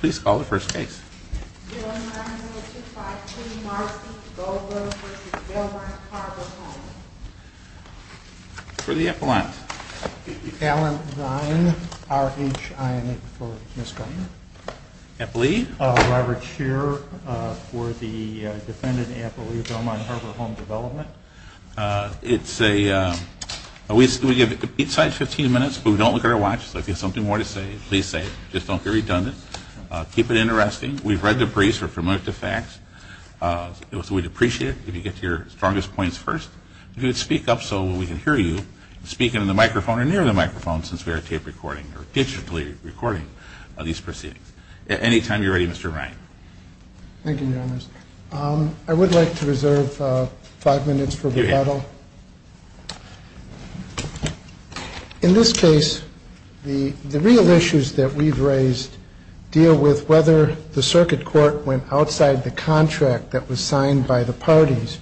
Please call the first case. 090252 Marcy Belmont v. Belmont Harbor Home For the Appalachians. Allen Ryan, R-H-I-N-N-Y for Ms. Garner. Appalachian. Robert Shearer for the defendant Appalachian Belmont Harbor Home Development. It's a, we give each side 15 minutes, but we don't look at our watch. So if you have something more to say, please say it. Just don't get redundant. Keep it interesting. We've read the briefs. We're familiar with the facts. So we'd appreciate it if you get to your strongest points first. If you would speak up so we can hear you. Speak into the microphone or near the microphone since we are tape recording or digitally recording these proceedings. At any time you're ready, Mr. Ryan. Thank you, Your Honors. I would like to reserve five minutes for rebuttal. In this case, the real issues that we've raised deal with whether the circuit court went outside the contract that was signed by the parties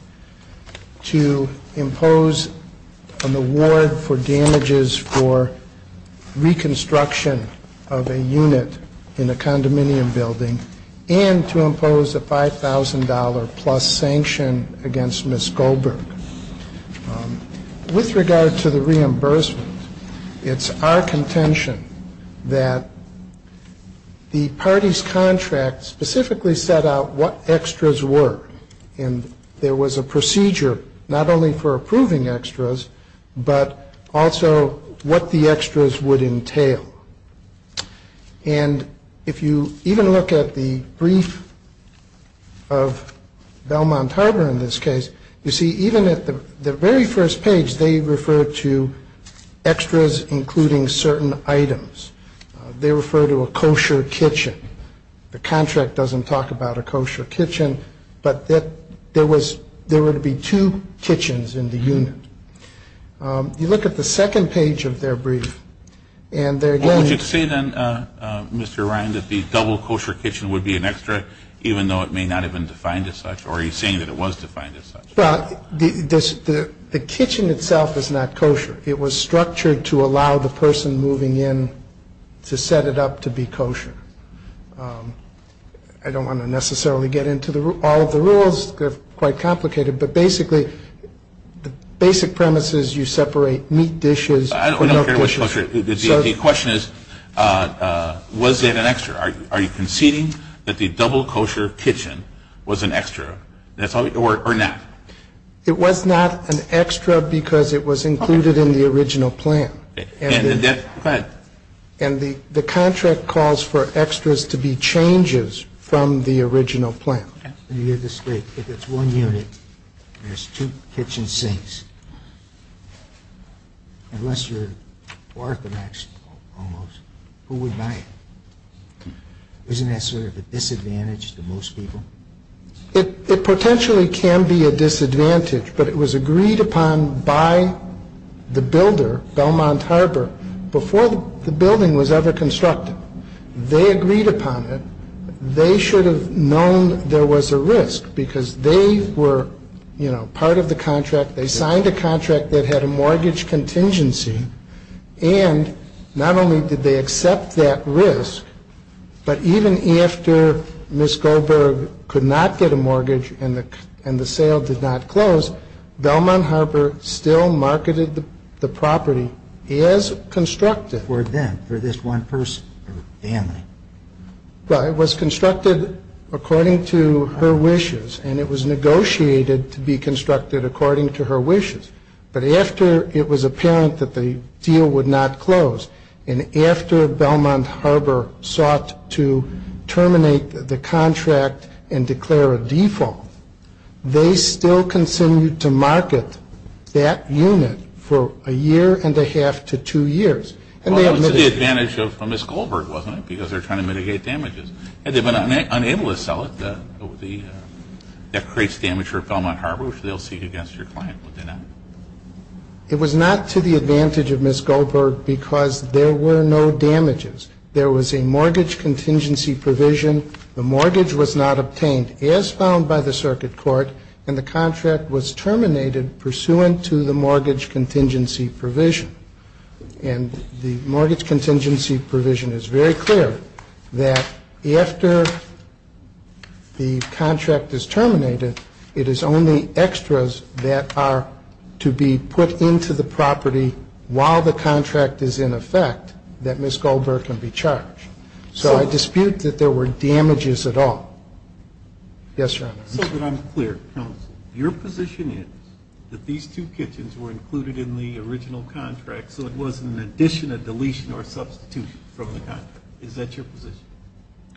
to impose an award for damages for reconstruction of a unit in a condominium building and to impose a $5,000-plus sanction against Ms. Goldberg. With regard to the reimbursement, it's our contention that the parties' contract specifically set out what extras were. And there was a procedure not only for approving extras, but also what the extras would entail. And if you even look at the brief of Belmont Harbor in this case, you see even at the very first page they refer to extras including certain items. They refer to a kosher kitchen. The contract doesn't talk about a kosher kitchen, but there were to be two kitchens in the unit. If you look at the second page of their brief, and they're again- What would you say then, Mr. Ryan, that the double kosher kitchen would be an extra even though it may not have been defined as such, or are you saying that it was defined as such? Well, the kitchen itself is not kosher. It was structured to allow the person moving in to set it up to be kosher. I don't want to necessarily get into all of the rules. They're quite complicated. But basically, the basic premise is you separate meat dishes- I don't care which kosher. The question is, was it an extra? Are you conceding that the double kosher kitchen was an extra or not? It was not an extra because it was included in the original plan. And the contract calls for extras to be changes from the original plan. Let me get this straight. If it's one unit and there's two kitchen sinks, unless you're orthodox almost, who would buy it? Isn't that sort of a disadvantage to most people? It potentially can be a disadvantage, but it was agreed upon by the builder, Belmont Harbor, before the building was ever constructed. They agreed upon it. They should have known there was a risk because they were, you know, part of the contract. They signed a contract that had a mortgage contingency. And not only did they accept that risk, but even after Ms. Goldberg could not get a mortgage and the sale did not close, Belmont Harbor still marketed the property as constructed. For them, for this one person or family? Well, it was constructed according to her wishes, and it was negotiated to be constructed according to her wishes. But after it was apparent that the deal would not close and after Belmont Harbor sought to terminate the contract and declare a default, they still continued to market that unit for a year and a half to two years. Well, it was to the advantage of Ms. Goldberg, wasn't it? Because they were trying to mitigate damages. Had they been unable to sell it, that creates damage for Belmont Harbor, which they'll seek against your client, would they not? It was not to the advantage of Ms. Goldberg because there were no damages. There was a mortgage contingency provision. The mortgage was not obtained, as found by the circuit court, and the contract was terminated pursuant to the mortgage contingency provision. And the mortgage contingency provision is very clear that after the contract is terminated, it is only extras that are to be put into the property while the contract is in effect that Ms. Goldberg can be charged. So I dispute that there were damages at all. Yes, Your Honor. So that I'm clear, counsel, your position is that these two kitchens were included in the original contract so it wasn't an addition, a deletion, or a substitution from the contract. Is that your position?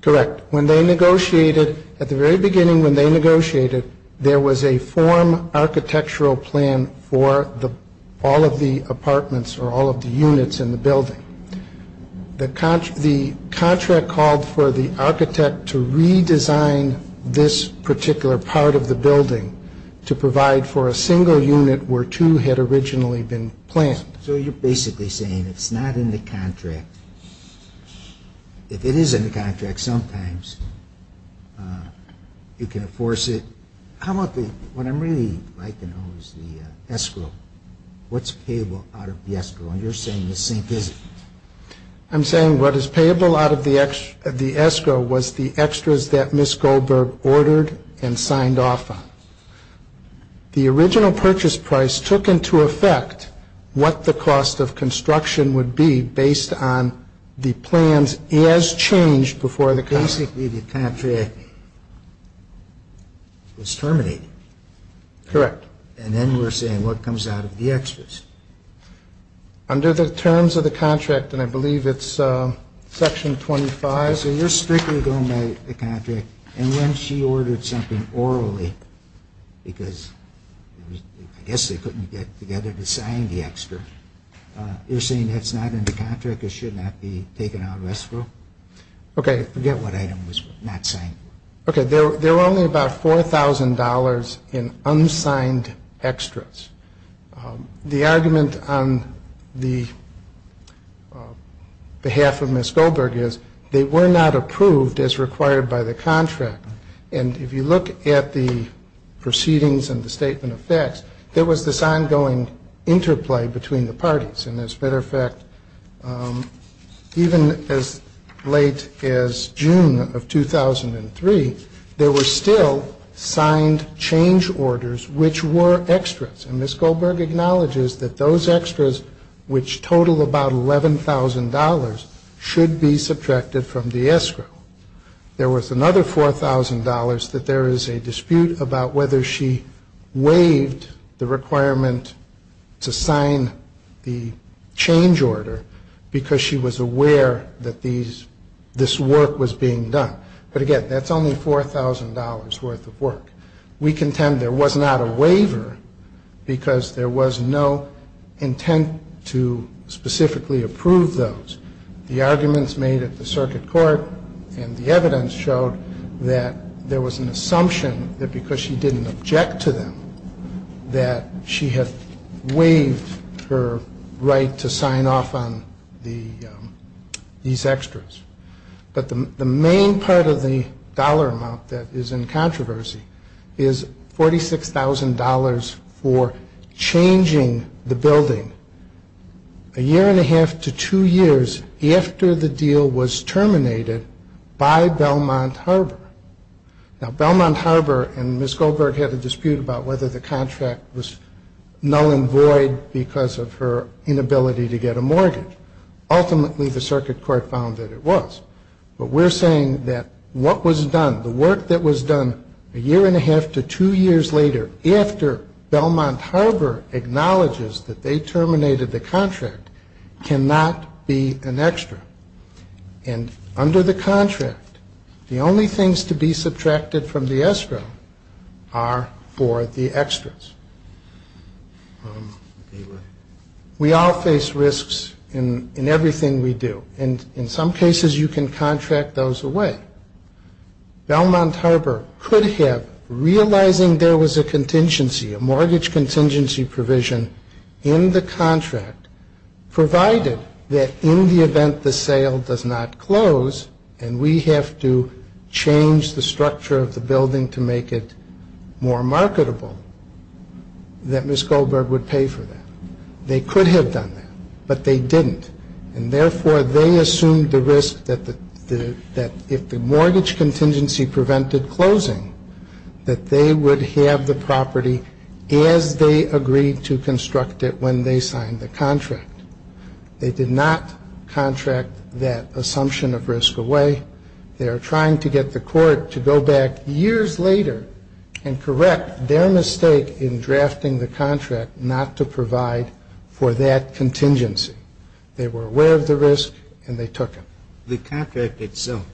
Correct. When they negotiated, at the very beginning when they negotiated, there was a form architectural plan for all of the apartments or all of the units in the building. The contract called for the architect to redesign this particular part of the building to provide for a single unit where two had originally been planned. So you're basically saying it's not in the contract. If it is in the contract, sometimes you can enforce it. What I'm really liking, though, is the escrow. What's payable out of the escrow? You're saying the same thing. I'm saying what is payable out of the escrow was the extras that Ms. Goldberg ordered and signed off on. The original purchase price took into effect what the cost of construction would be based on the plans as changed before the contract. Basically, the contract was terminated. Correct. And then we're saying what comes out of the extras. Under the terms of the contract, and I believe it's Section 25. So you're strictly going by the contract. And when she ordered something orally, because I guess they couldn't get together to sign the extra, you're saying that's not in the contract, it should not be taken out of escrow? Okay. Forget what item was not signed. Okay, there were only about $4,000 in unsigned extras. The argument on the behalf of Ms. Goldberg is they were not approved as required by the contract. And if you look at the proceedings and the statement of facts, there was this ongoing interplay between the parties. And as a matter of fact, even as late as June of 2003, there were still signed change orders which were extras. And Ms. Goldberg acknowledges that those extras, which total about $11,000, should be subtracted from the escrow. There was another $4,000 that there is a dispute about whether she waived the requirement to sign the change order because she was aware that this work was being done. But, again, that's only $4,000 worth of work. We contend there was not a waiver because there was no intent to specifically approve those. The arguments made at the circuit court and the evidence showed that there was an assumption that because she didn't object to them that she had waived her right to sign off on these extras. But the main part of the dollar amount that is in controversy is $46,000 for changing the building a year and a half to two years after the deal was terminated by Belmont Harbor. Now, Belmont Harbor and Ms. Goldberg had a dispute about whether the contract was null and void because of her inability to get a mortgage. Ultimately, the circuit court found that it was. But we're saying that what was done, the work that was done a year and a half to two years later after Belmont Harbor acknowledges that they terminated the contract cannot be an extra. And under the contract, the only things to be subtracted from the extra are for the extras. We all face risks in everything we do. And in some cases, you can contract those away. Belmont Harbor could have, realizing there was a contingency, a mortgage contingency provision in the contract provided that in the event the sale does not close and we have to change the structure of the building to make it more marketable, that Ms. Goldberg would pay for that. They could have done that, but they didn't. And therefore, they assumed the risk that if the mortgage contingency prevented closing, that they would have the property as they agreed to construct it when they signed the contract. They did not contract that assumption of risk away. They are trying to get the court to go back years later and correct their mistake in drafting the contract not to provide for that contingency. They were aware of the risk, and they took it. The contract itself,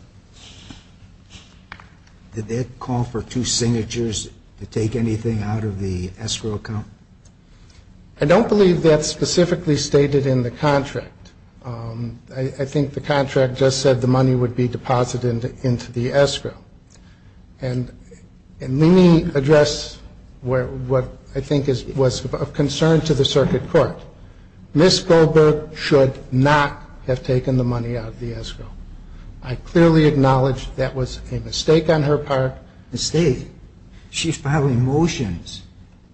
did that call for two signatures to take anything out of the escrow account? I don't believe that's specifically stated in the contract. I think the contract just said the money would be deposited into the escrow. And let me address what I think was of concern to the circuit court. Ms. Goldberg should not have taken the money out of the escrow. I clearly acknowledge that was a mistake on her part. A mistake? She filed a motion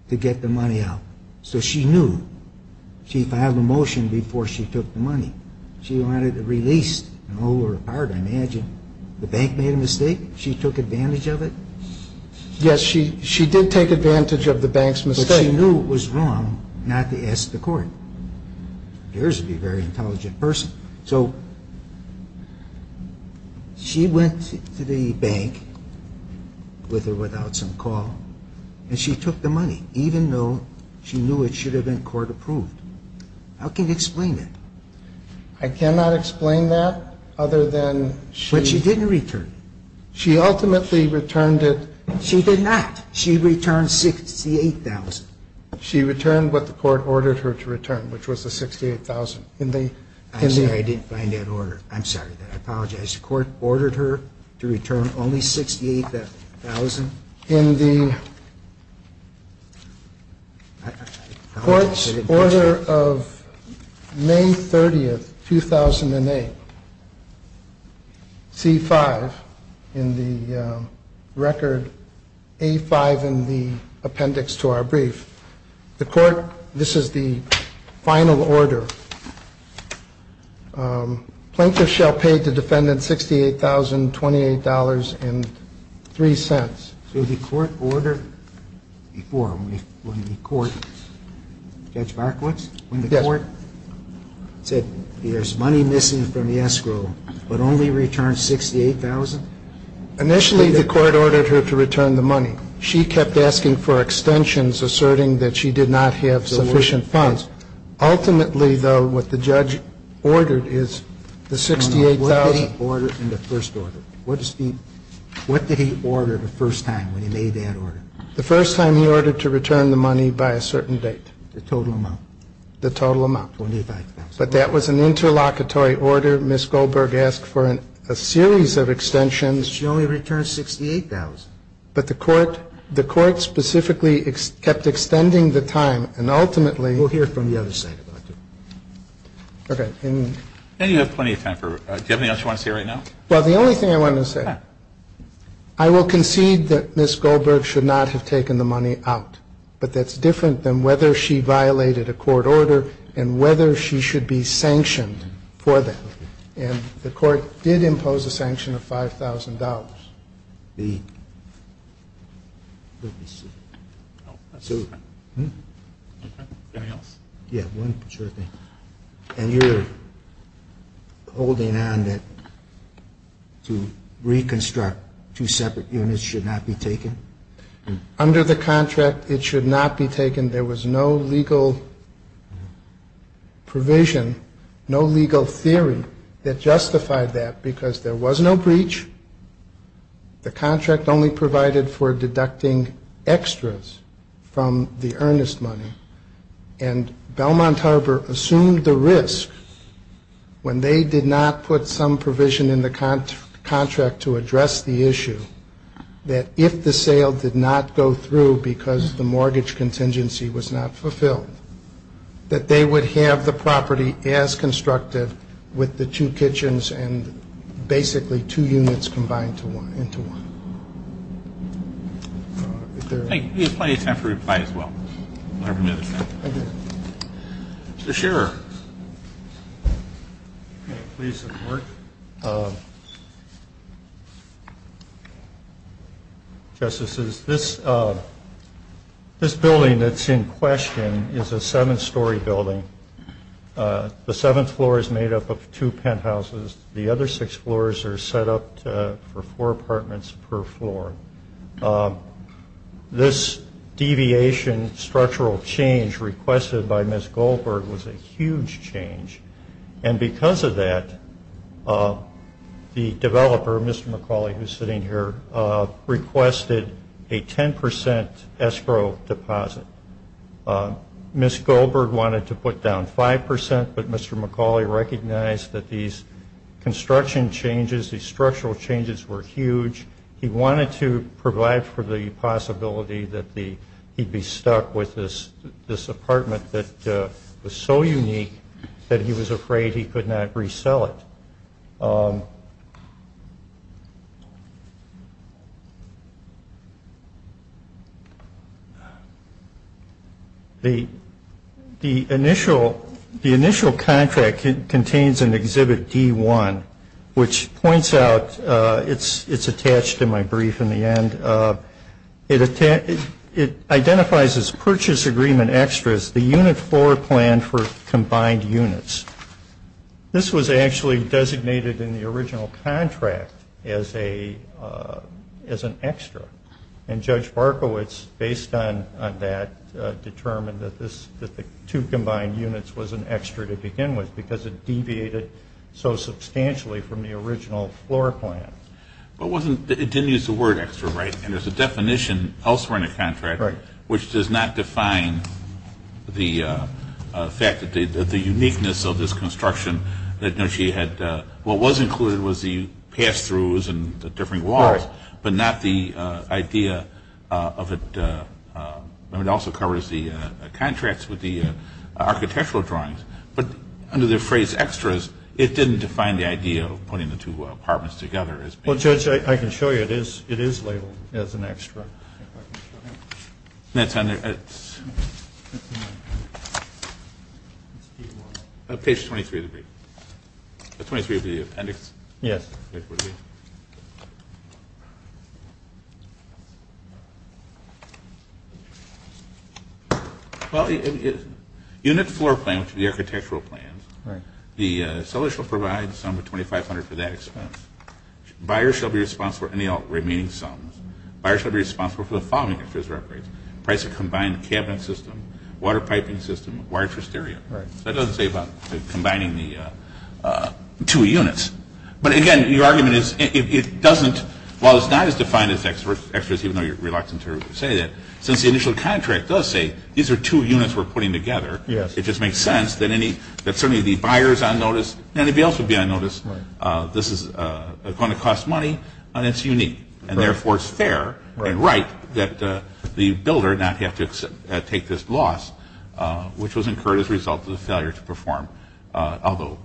to get the money out, so she knew. She filed a motion before she took the money. She wanted it released and hold it apart, I imagine. The bank made a mistake? She took advantage of it? Yes, she did take advantage of the bank's mistake. But she knew it was wrong not to ask the court. Yours would be a very intelligent person. So she went to the bank with or without some call, and she took the money, even though she knew it should have been court-approved. How can you explain that? I cannot explain that other than she ultimately returned it. She did not. She returned $68,000. She returned what the court ordered her to return, which was the $68,000. I'm sorry, I didn't find that order. I'm sorry. I apologize. The court ordered her to return only $68,000? In the court's order of May 30th, 2008, C-5, in the record A-5 in the appendix to our brief, the court, this is the final order. Plaintiff shall pay the defendant $68,028.03. So the court ordered before, when the court, Judge Markowitz? Yes. When the court said there's money missing from the escrow, but only returned $68,000? Initially, the court ordered her to return the money. She kept asking for extensions, asserting that she did not have sufficient funds. Ultimately, though, what the judge ordered is the $68,000. And what did he order in the first order? What did he order the first time when he made that order? The first time he ordered to return the money by a certain date. The total amount. The total amount. $25,000. But that was an interlocutory order. Ms. Goldberg asked for a series of extensions. She only returned $68,000. But the court, the court specifically kept extending the time, and ultimately We'll hear from the other side about that. Okay. And you have plenty of time for, do you have anything else you want to say right now? Well, the only thing I want to say, I will concede that Ms. Goldberg should not have taken the money out. But that's different than whether she violated a court order and whether she should be sanctioned for that. And the court did impose a sanction of $5,000. And you're holding on to reconstruct two separate units should not be taken? Under the contract, it should not be taken. There was no legal provision, no legal theory that justified that because there was no breach. The contract only provided for deducting extras from the earnest money. And Belmont Harbor assumed the risk when they did not put some provision in the contract to address the issue, that if the sale did not go through because the mortgage contingency was not fulfilled, that they would have the property as well. So that's basically two units combined into one. Thank you. We have plenty of time for replies as well. Mr. Shearer. Please support. Justices, this building that's in question is a seven-story building. The seventh floor is made up of two penthouses. The other six floors are set up for four apartments per floor. This deviation structural change requested by Ms. Goldberg was a huge change. And because of that, the developer, Mr. McCauley, who's sitting here, requested a 10% escrow deposit. Ms. Goldberg wanted to put down 5%, but Mr. McCauley recognized that these construction changes, these structural changes were huge. He wanted to provide for the possibility that he'd be stuck with this apartment that was so unique that he was afraid he could not resell it. The initial contract contains an exhibit D1, which points out it's attached to my brief in the end. It identifies as purchase agreement extras the unit floor plan for combined units. This was actually designated in the original contract as an extra, and Judge Barkowitz, based on that, determined that the two combined units was an extra to begin with because it deviated so substantially from the original floor plan. But it didn't use the word extra, right? And there's a definition elsewhere in the contract which does not define the fact that the uniqueness of this construction, that she had what was included was the pass-throughs and the different walls, but not the idea of it. And it also covers the contracts with the architectural drawings. But under the phrase extras, it didn't define the idea of putting the two apartments together. Well, Judge, I can show you. It is labeled as an extra. Page 23 of the appendix? Yes. Well, unit floor plan for the architectural plans, the seller shall provide some of $2,500 for that expense. Buyer shall be responsible for any remaining sums. Buyer shall be responsible for the following extras or upgrades. Price of combined cabinet system, water piping system, wire tristeria. That doesn't say about combining the two units. But again, your argument is it doesn't – while it's not as defined as extras, even though you're reluctant to say that, since the initial contract does say these are two units we're putting together, it just makes sense that certainly the else would be unnoticed. This is going to cost money, and it's unique. And therefore, it's fair and right that the builder not have to take this loss, which was incurred as a result of the failure to perform. Although,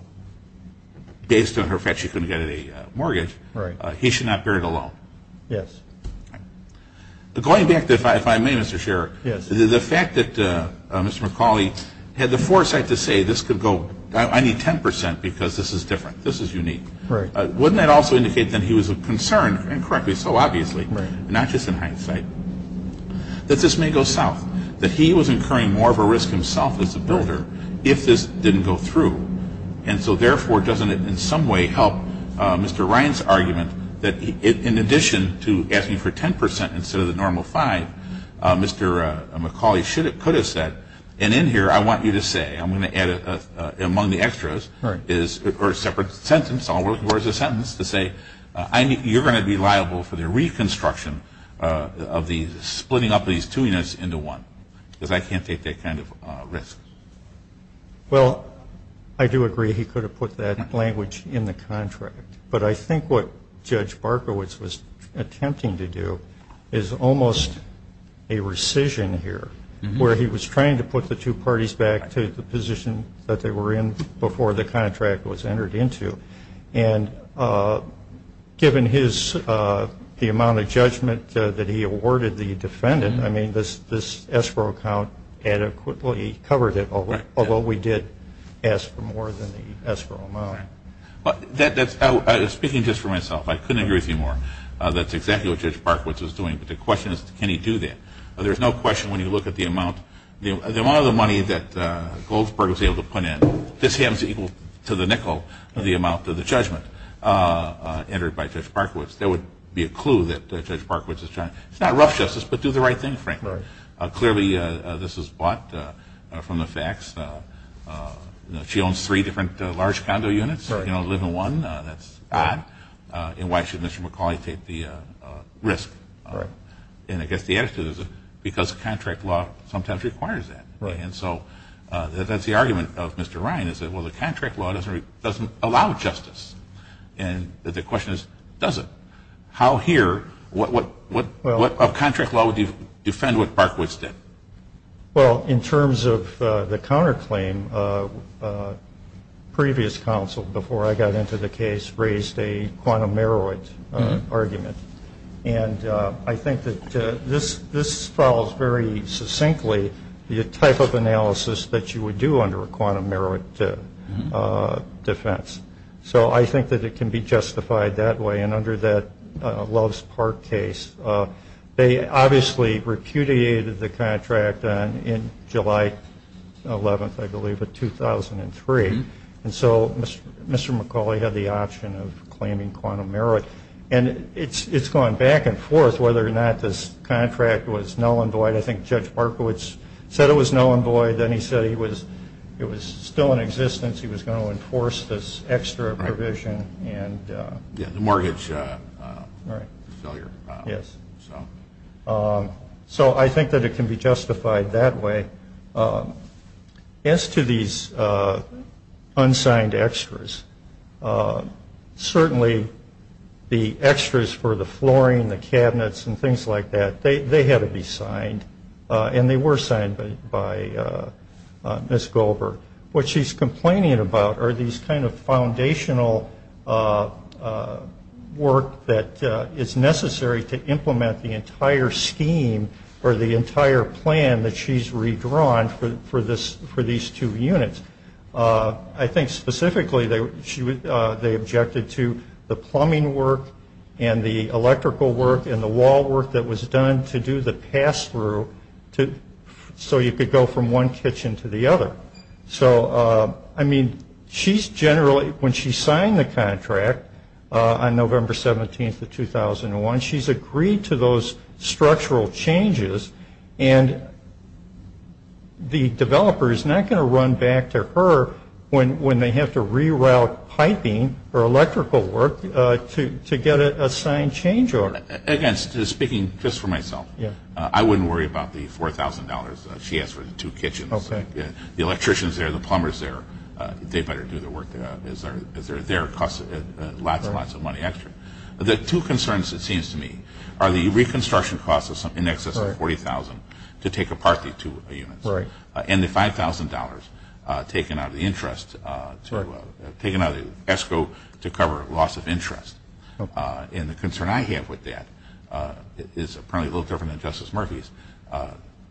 based on her fact she couldn't get a mortgage, he should not bear it alone. Yes. Going back, if I may, Mr. Scherer, the fact that Mr. McCauley had the foresight to say this could go – I need 10% because this is different. This is unique. Right. Wouldn't that also indicate that he was concerned, and correctly so, obviously, not just in hindsight, that this may go south, that he was incurring more of a risk himself as a builder if this didn't go through. And so, therefore, doesn't it in some way help Mr. Ryan's argument that in addition to asking for 10% instead of the normal 5%, Mr. McCauley could have said, and in here I want you to say, I'm going to add it among the extras, or a separate sentence, I'll work towards a sentence to say, you're going to be liable for the reconstruction of splitting up these two units into one because I can't take that kind of risk. Well, I do agree he could have put that language in the contract, but I think what Judge Barkowitz was attempting to do is almost a rescission here where he was trying to put the two parties back to the position that they were in before the contract was entered into. And given the amount of judgment that he awarded the defendant, I mean, this escrow count adequately covered it, although we did ask for more than the escrow amount. Speaking just for myself, I couldn't agree with you more. That's exactly what Judge Barkowitz was doing. But the question is, can he do that? There's no question when you look at the amount of the money that Goldsberg was able to put in, this happens to be equal to the nickel of the amount of the judgment entered by Judge Barkowitz. There would be a clue that Judge Barkowitz is trying to, it's not rough justice, but do the right thing, frankly. Clearly this is bought from the facts. She owns three different large condo units, you know, live in one. That's odd. And why should Mr. McCauley take the risk? And I guess the answer is because contract law sometimes requires that. And so that's the argument of Mr. Ryan is that, well, the contract law doesn't allow justice. And the question is, does it? How here, what contract law would defend what Barkowitz did? Well, in terms of the counterclaim, previous counsel, before I got into the case, raised a quantum meroit argument. And I think that this follows very succinctly the type of analysis that you would do under a quantum meroit defense. So I think that it can be justified that way. And under that Loves Park case, they obviously repudiated the contract in July 11th, I believe, of 2003. And so Mr. McCauley had the option of claiming quantum meroit. And it's gone back and forth whether or not this contract was null and void. I think Judge Barkowitz said it was null and void. Then he said it was still in existence. He was going to enforce this extra provision. The mortgage failure. Yes. So I think that it can be justified that way. As to these unsigned extras, certainly the extras for the flooring, the cabinets, and things like that, they had to be signed. And they were signed by Ms. Goldberg. What she's complaining about are these kind of foundational work that is necessary to implement the entire scheme or the entire plan that she's redrawn for these two units. I think specifically they objected to the plumbing work and the electrical work and the wall work that was done to do the pass through so you could go from one kitchen to the other. So, I mean, she's generally, when she signed the contract on November 17th of 2001, she's agreed to those structural changes. And the developer is not going to run back to her when they have to reroute piping or electrical work to get a signed change order. Again, speaking just for myself, I wouldn't worry about the $4,000 she has for the two kitchens. The electricians are there. The plumbers are there. They better do the work. They're there. It costs lots and lots of money extra. The two concerns, it seems to me, are the reconstruction costs in excess of $40,000 to take apart these two units and the $5,000 taken out of the interest, taken out of the ESCO to cover loss of interest. And the concern I have with that is apparently a little different than Justice Murphy's.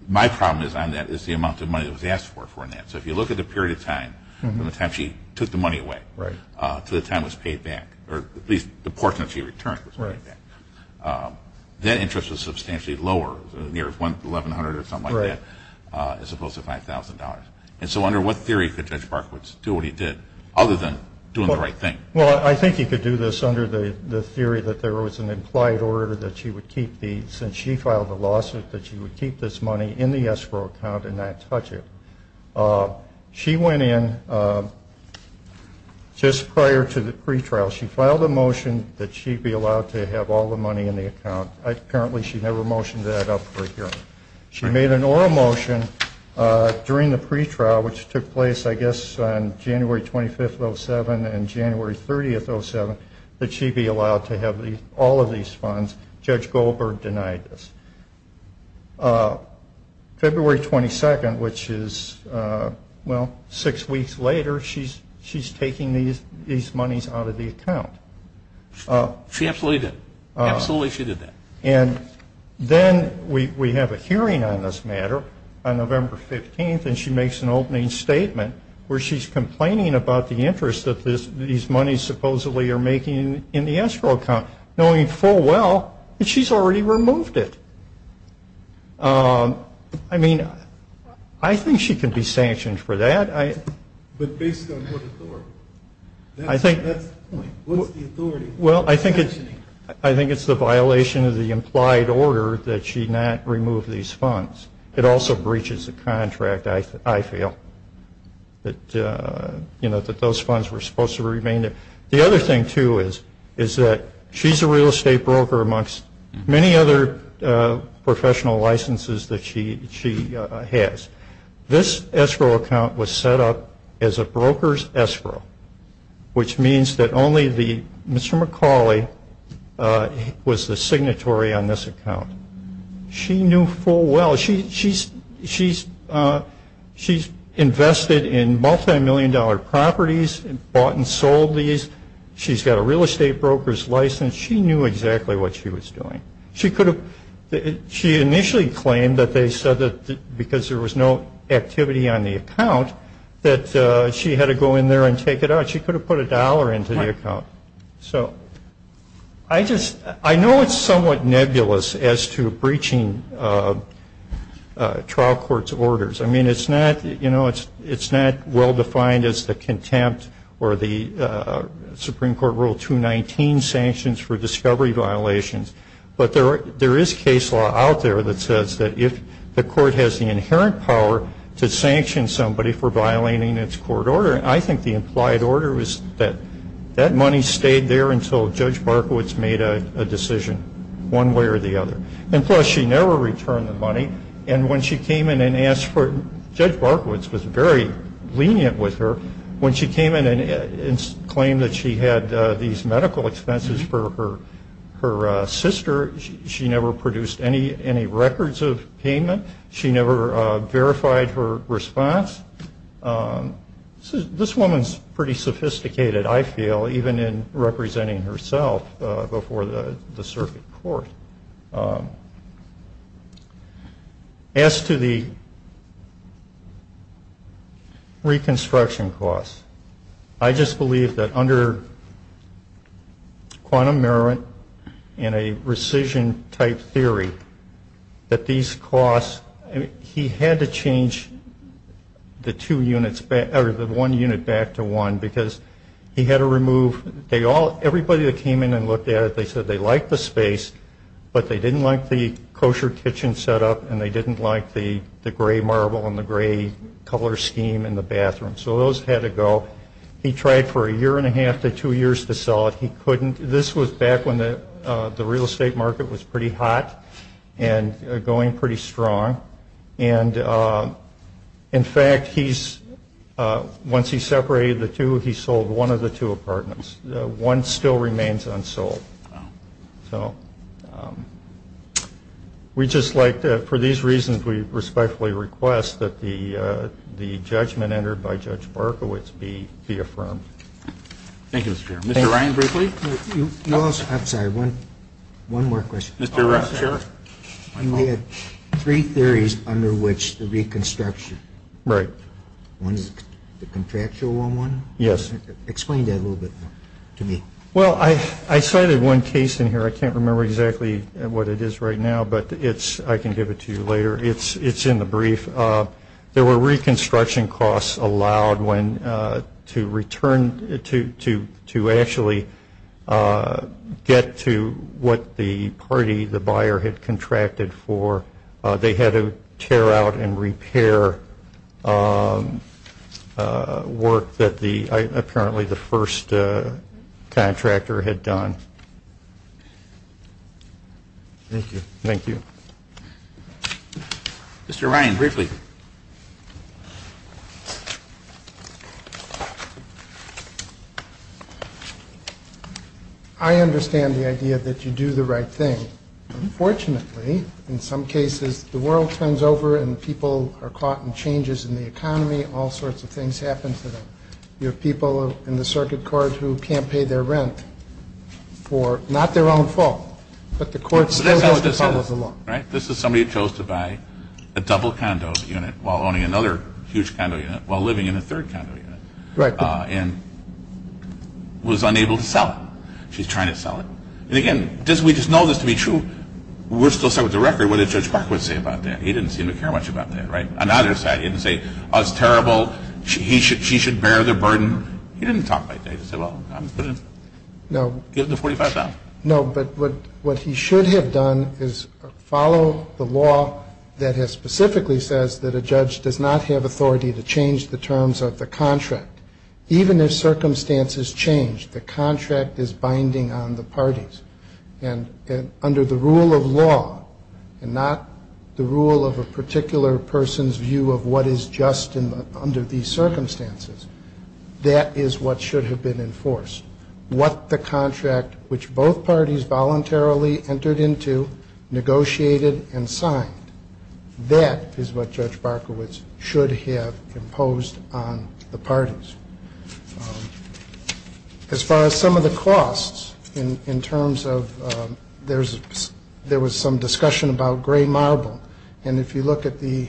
My problem on that is the amount of money that was asked for in that. So if you look at the period of time from the time she took the money away to the time it was paid back, or at least the portion that she returned was paid back, that interest was substantially lower, near $1,100 or something like that as opposed to $5,000. And so under what theory could Judge Barkowitz do what he did other than doing the right thing? Well, I think he could do this under the theory that there was an implied order that she would keep the since she filed the lawsuit that she would keep this money in the ESCO account and not touch it. She went in just prior to the pretrial. She filed a motion that she be allowed to have all the money in the account. Apparently she never motioned that up for hearing. She made an oral motion during the pretrial, which took place, I guess, on January 25th of 2007 and January 30th of 2007, that she be allowed to have all of these funds. Judge Goldberg denied this. February 22nd, which is, well, six weeks later, she's taking these monies out of the account. She absolutely did. Absolutely she did that. And then we have a hearing on this matter on November 15th, and she makes an opening statement where she's complaining about the interest that these monies supposedly are making in the ESCO account, knowing full well that she's already removed it. I mean, I think she could be sanctioned for that. But based on what authority? That's the point. What's the authority? Well, I think it's the violation of the implied order that she not remove these funds. It also breaches the contract, I feel, that those funds were supposed to remain there. The other thing, too, is that she's a real estate broker amongst many other professional licenses that she has. This ESCO account was set up as a broker's ESCO, which means that only Mr. McCauley was the signatory on this account. She knew full well. She's invested in multimillion-dollar properties and bought and sold these. She's got a real estate broker's license. She knew exactly what she was doing. She initially claimed that they said that because there was no activity on the account, that she had to go in there and take it out. She could have put a dollar into the account. So I know it's somewhat nebulous as to breaching trial court's orders. I mean, it's not well defined as the contempt or the Supreme Court Rule 219 sanctions for discovery violations. But there is case law out there that says that if the court has the inherent power to sanction somebody for violating its court order, I think the implied order is that that money stayed there until Judge Barkowitz made a decision one way or the other. And, plus, she never returned the money. And when she came in and asked for it, Judge Barkowitz was very lenient with her. When she came in and claimed that she had these medical expenses for her sister, she never produced any records of payment. She never verified her response. This woman is pretty sophisticated, I feel, even in representing herself before the circuit court. As to the reconstruction costs, I just believe that under quantum merriment and a rescission-type theory that these costs, he had to change the two units, or the one unit back to one because he had to remove, everybody that came in and looked at it, they said they liked the space, but they didn't like the kosher kitchen set up and they didn't like the gray marble and the gray color scheme in the bathroom. So those had to go. He tried for a year and a half to two years to sell it. He couldn't. This was back when the real estate market was pretty hot and going pretty strong. And, in fact, once he separated the two, he sold one of the two apartments. One still remains unsold. So we just like to, for these reasons, we respectfully request that the judgment entered by Judge Barkowitz be affirmed. Thank you, Mr. Chairman. Mr. Ryan Brinkley? I'm sorry, one more question. Mr. Chair? You had three theories under which the reconstruction. Right. One is the contractual one? Yes. Explain that a little bit to me. Well, I cited one case in here. I can't remember exactly what it is right now, but I can give it to you later. It's in the brief. There were reconstruction costs allowed to actually get to what the party, the buyer, had contracted for. They had to tear out and repair work that apparently the first contractor had done. Thank you. Thank you. Mr. Ryan Brinkley? I understand the idea that you do the right thing. Unfortunately, in some cases, the world turns over and people are caught in changes in the economy. All sorts of things happen to them. You have people in the circuit court who can't pay their rent for not their own fault, but the court still goes to trouble with the law. Right? This is somebody who chose to buy a double condo unit while owning another huge condo unit while living in a third condo unit. Right. And was unable to sell it. She's trying to sell it. And, again, we just know this to be true. We're still stuck with the record. What did Judge Barker say about that? He didn't seem to care much about that. Right? On either side, he didn't say, oh, it's terrible. She should bear the burden. He didn't talk like that. He just said, well, I'm going to give it to $45,000. No, but what he should have done is follow the law that specifically says that a judge does not have authority to change the terms of the contract. Even if circumstances change, the contract is binding on the parties. And under the rule of law, and not the rule of a particular person's view of what is just under these circumstances, that is what should have been enforced. What the contract, which both parties voluntarily entered into, negotiated and signed, that is what Judge Barkowitz should have imposed on the parties. As far as some of the costs in terms of there was some discussion about gray marble. And if you look at the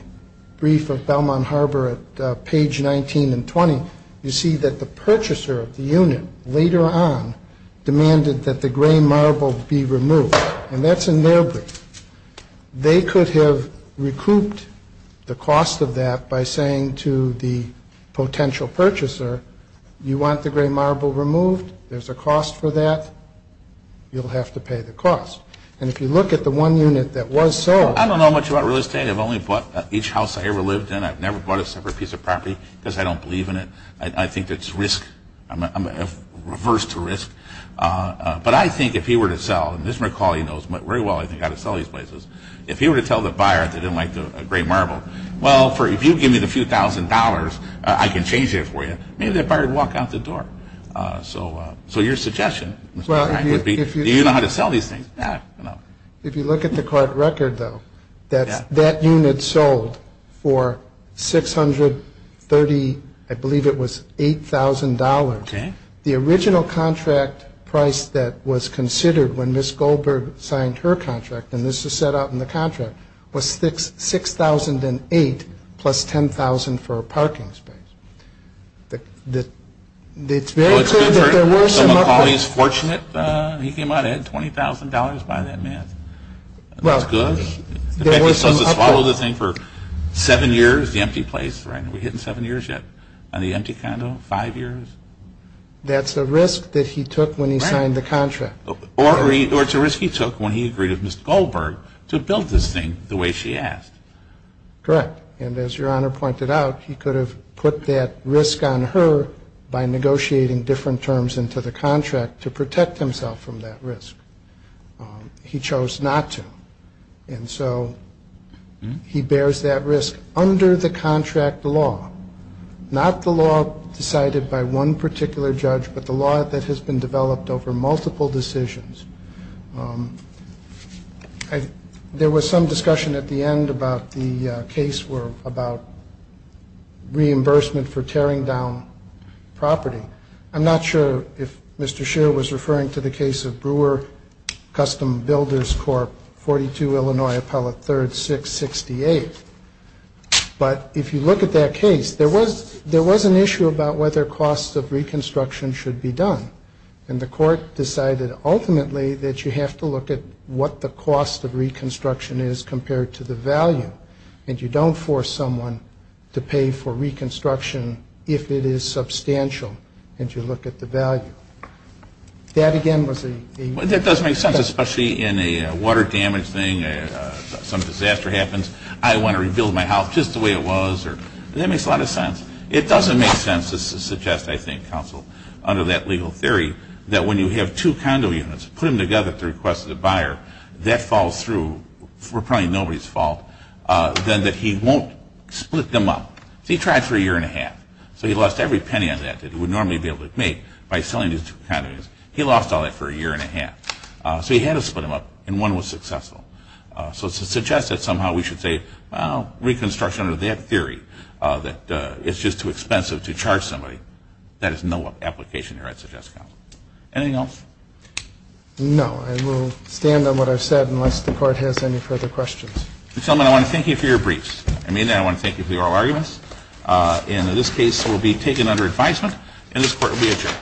brief of Belmont Harbor at page 19 and 20, you see that the purchaser of the unit later on demanded that the gray marble be removed. And that's in their brief. They could have recouped the cost of that by saying to the potential purchaser, you want the gray marble removed? There's a cost for that. You'll have to pay the cost. And if you look at the one unit that was sold. I don't know much about real estate. I've only bought each house I ever lived in. I've never bought a separate piece of property because I don't believe in it. I think it's risk. I'm averse to risk. But I think if he were to sell, and Mr. McCauley knows very well how to sell these places. If he were to tell the buyer that he didn't like the gray marble, well, if you give me the few thousand dollars, I can change it for you. Maybe the buyer would walk out the door. So your suggestion, Mr. McCauley, would be do you know how to sell these things? If you look at the court record, though, that unit sold for $630, I believe it was $8,000. The original contract price that was considered when Ms. Goldberg signed her contract, and this is set out in the contract, was $6,008 plus $10,000 for a parking space. It's very clear that there was some uproar. So McCauley's fortunate. He came out and had $20,000 by that math. That's good. In fact, he's supposed to swallow the thing for seven years, the empty place. We're hitting seven years yet on the empty condo, five years. That's a risk that he took when he signed the contract. Or it's a risk he took when he agreed with Ms. Goldberg to build this thing the way she asked. Correct. And as Your Honor pointed out, he could have put that risk on her by negotiating different terms into the contract to protect himself from that risk. He chose not to. And so he bears that risk under the contract law, not the law decided by one particular judge, but the law that has been developed over multiple decisions. There was some discussion at the end about the case about reimbursement for tearing down property. I'm not sure if Mr. Scheer was referring to the case of Brewer Custom Builders Corp., 42 Illinois, Appellate 3rd, 668. But if you look at that case, there was an issue about whether costs of reconstruction should be done. And the court decided ultimately that you have to look at what the cost of reconstruction is compared to the value. And you don't force someone to pay for reconstruction if it is substantial and you look at the value. That, again, was a... That does make sense, especially in a water damage thing, some disaster happens. I want to rebuild my house just the way it was. That makes a lot of sense. It doesn't make sense to suggest, I think, counsel, under that legal theory, that when you have two condo units, put them together at the request of the buyer, that falls through for probably nobody's fault, then that he won't split them up. He tried for a year and a half. So he lost every penny on that that he would normally be able to make by selling these two condos. He lost all that for a year and a half. So he had to split them up, and one was successful. So to suggest that somehow we should say, well, reconstruction under that theory, that it's just too expensive to charge somebody, that is no application here, I suggest, counsel. Anything else? No. I will stand on what I've said unless the court has any further questions. Mr. Tillman, I want to thank you for your briefs. I mean that. I want to thank you for your oral arguments. And in this case, it will be taken under advisement, and this court will be adjourned.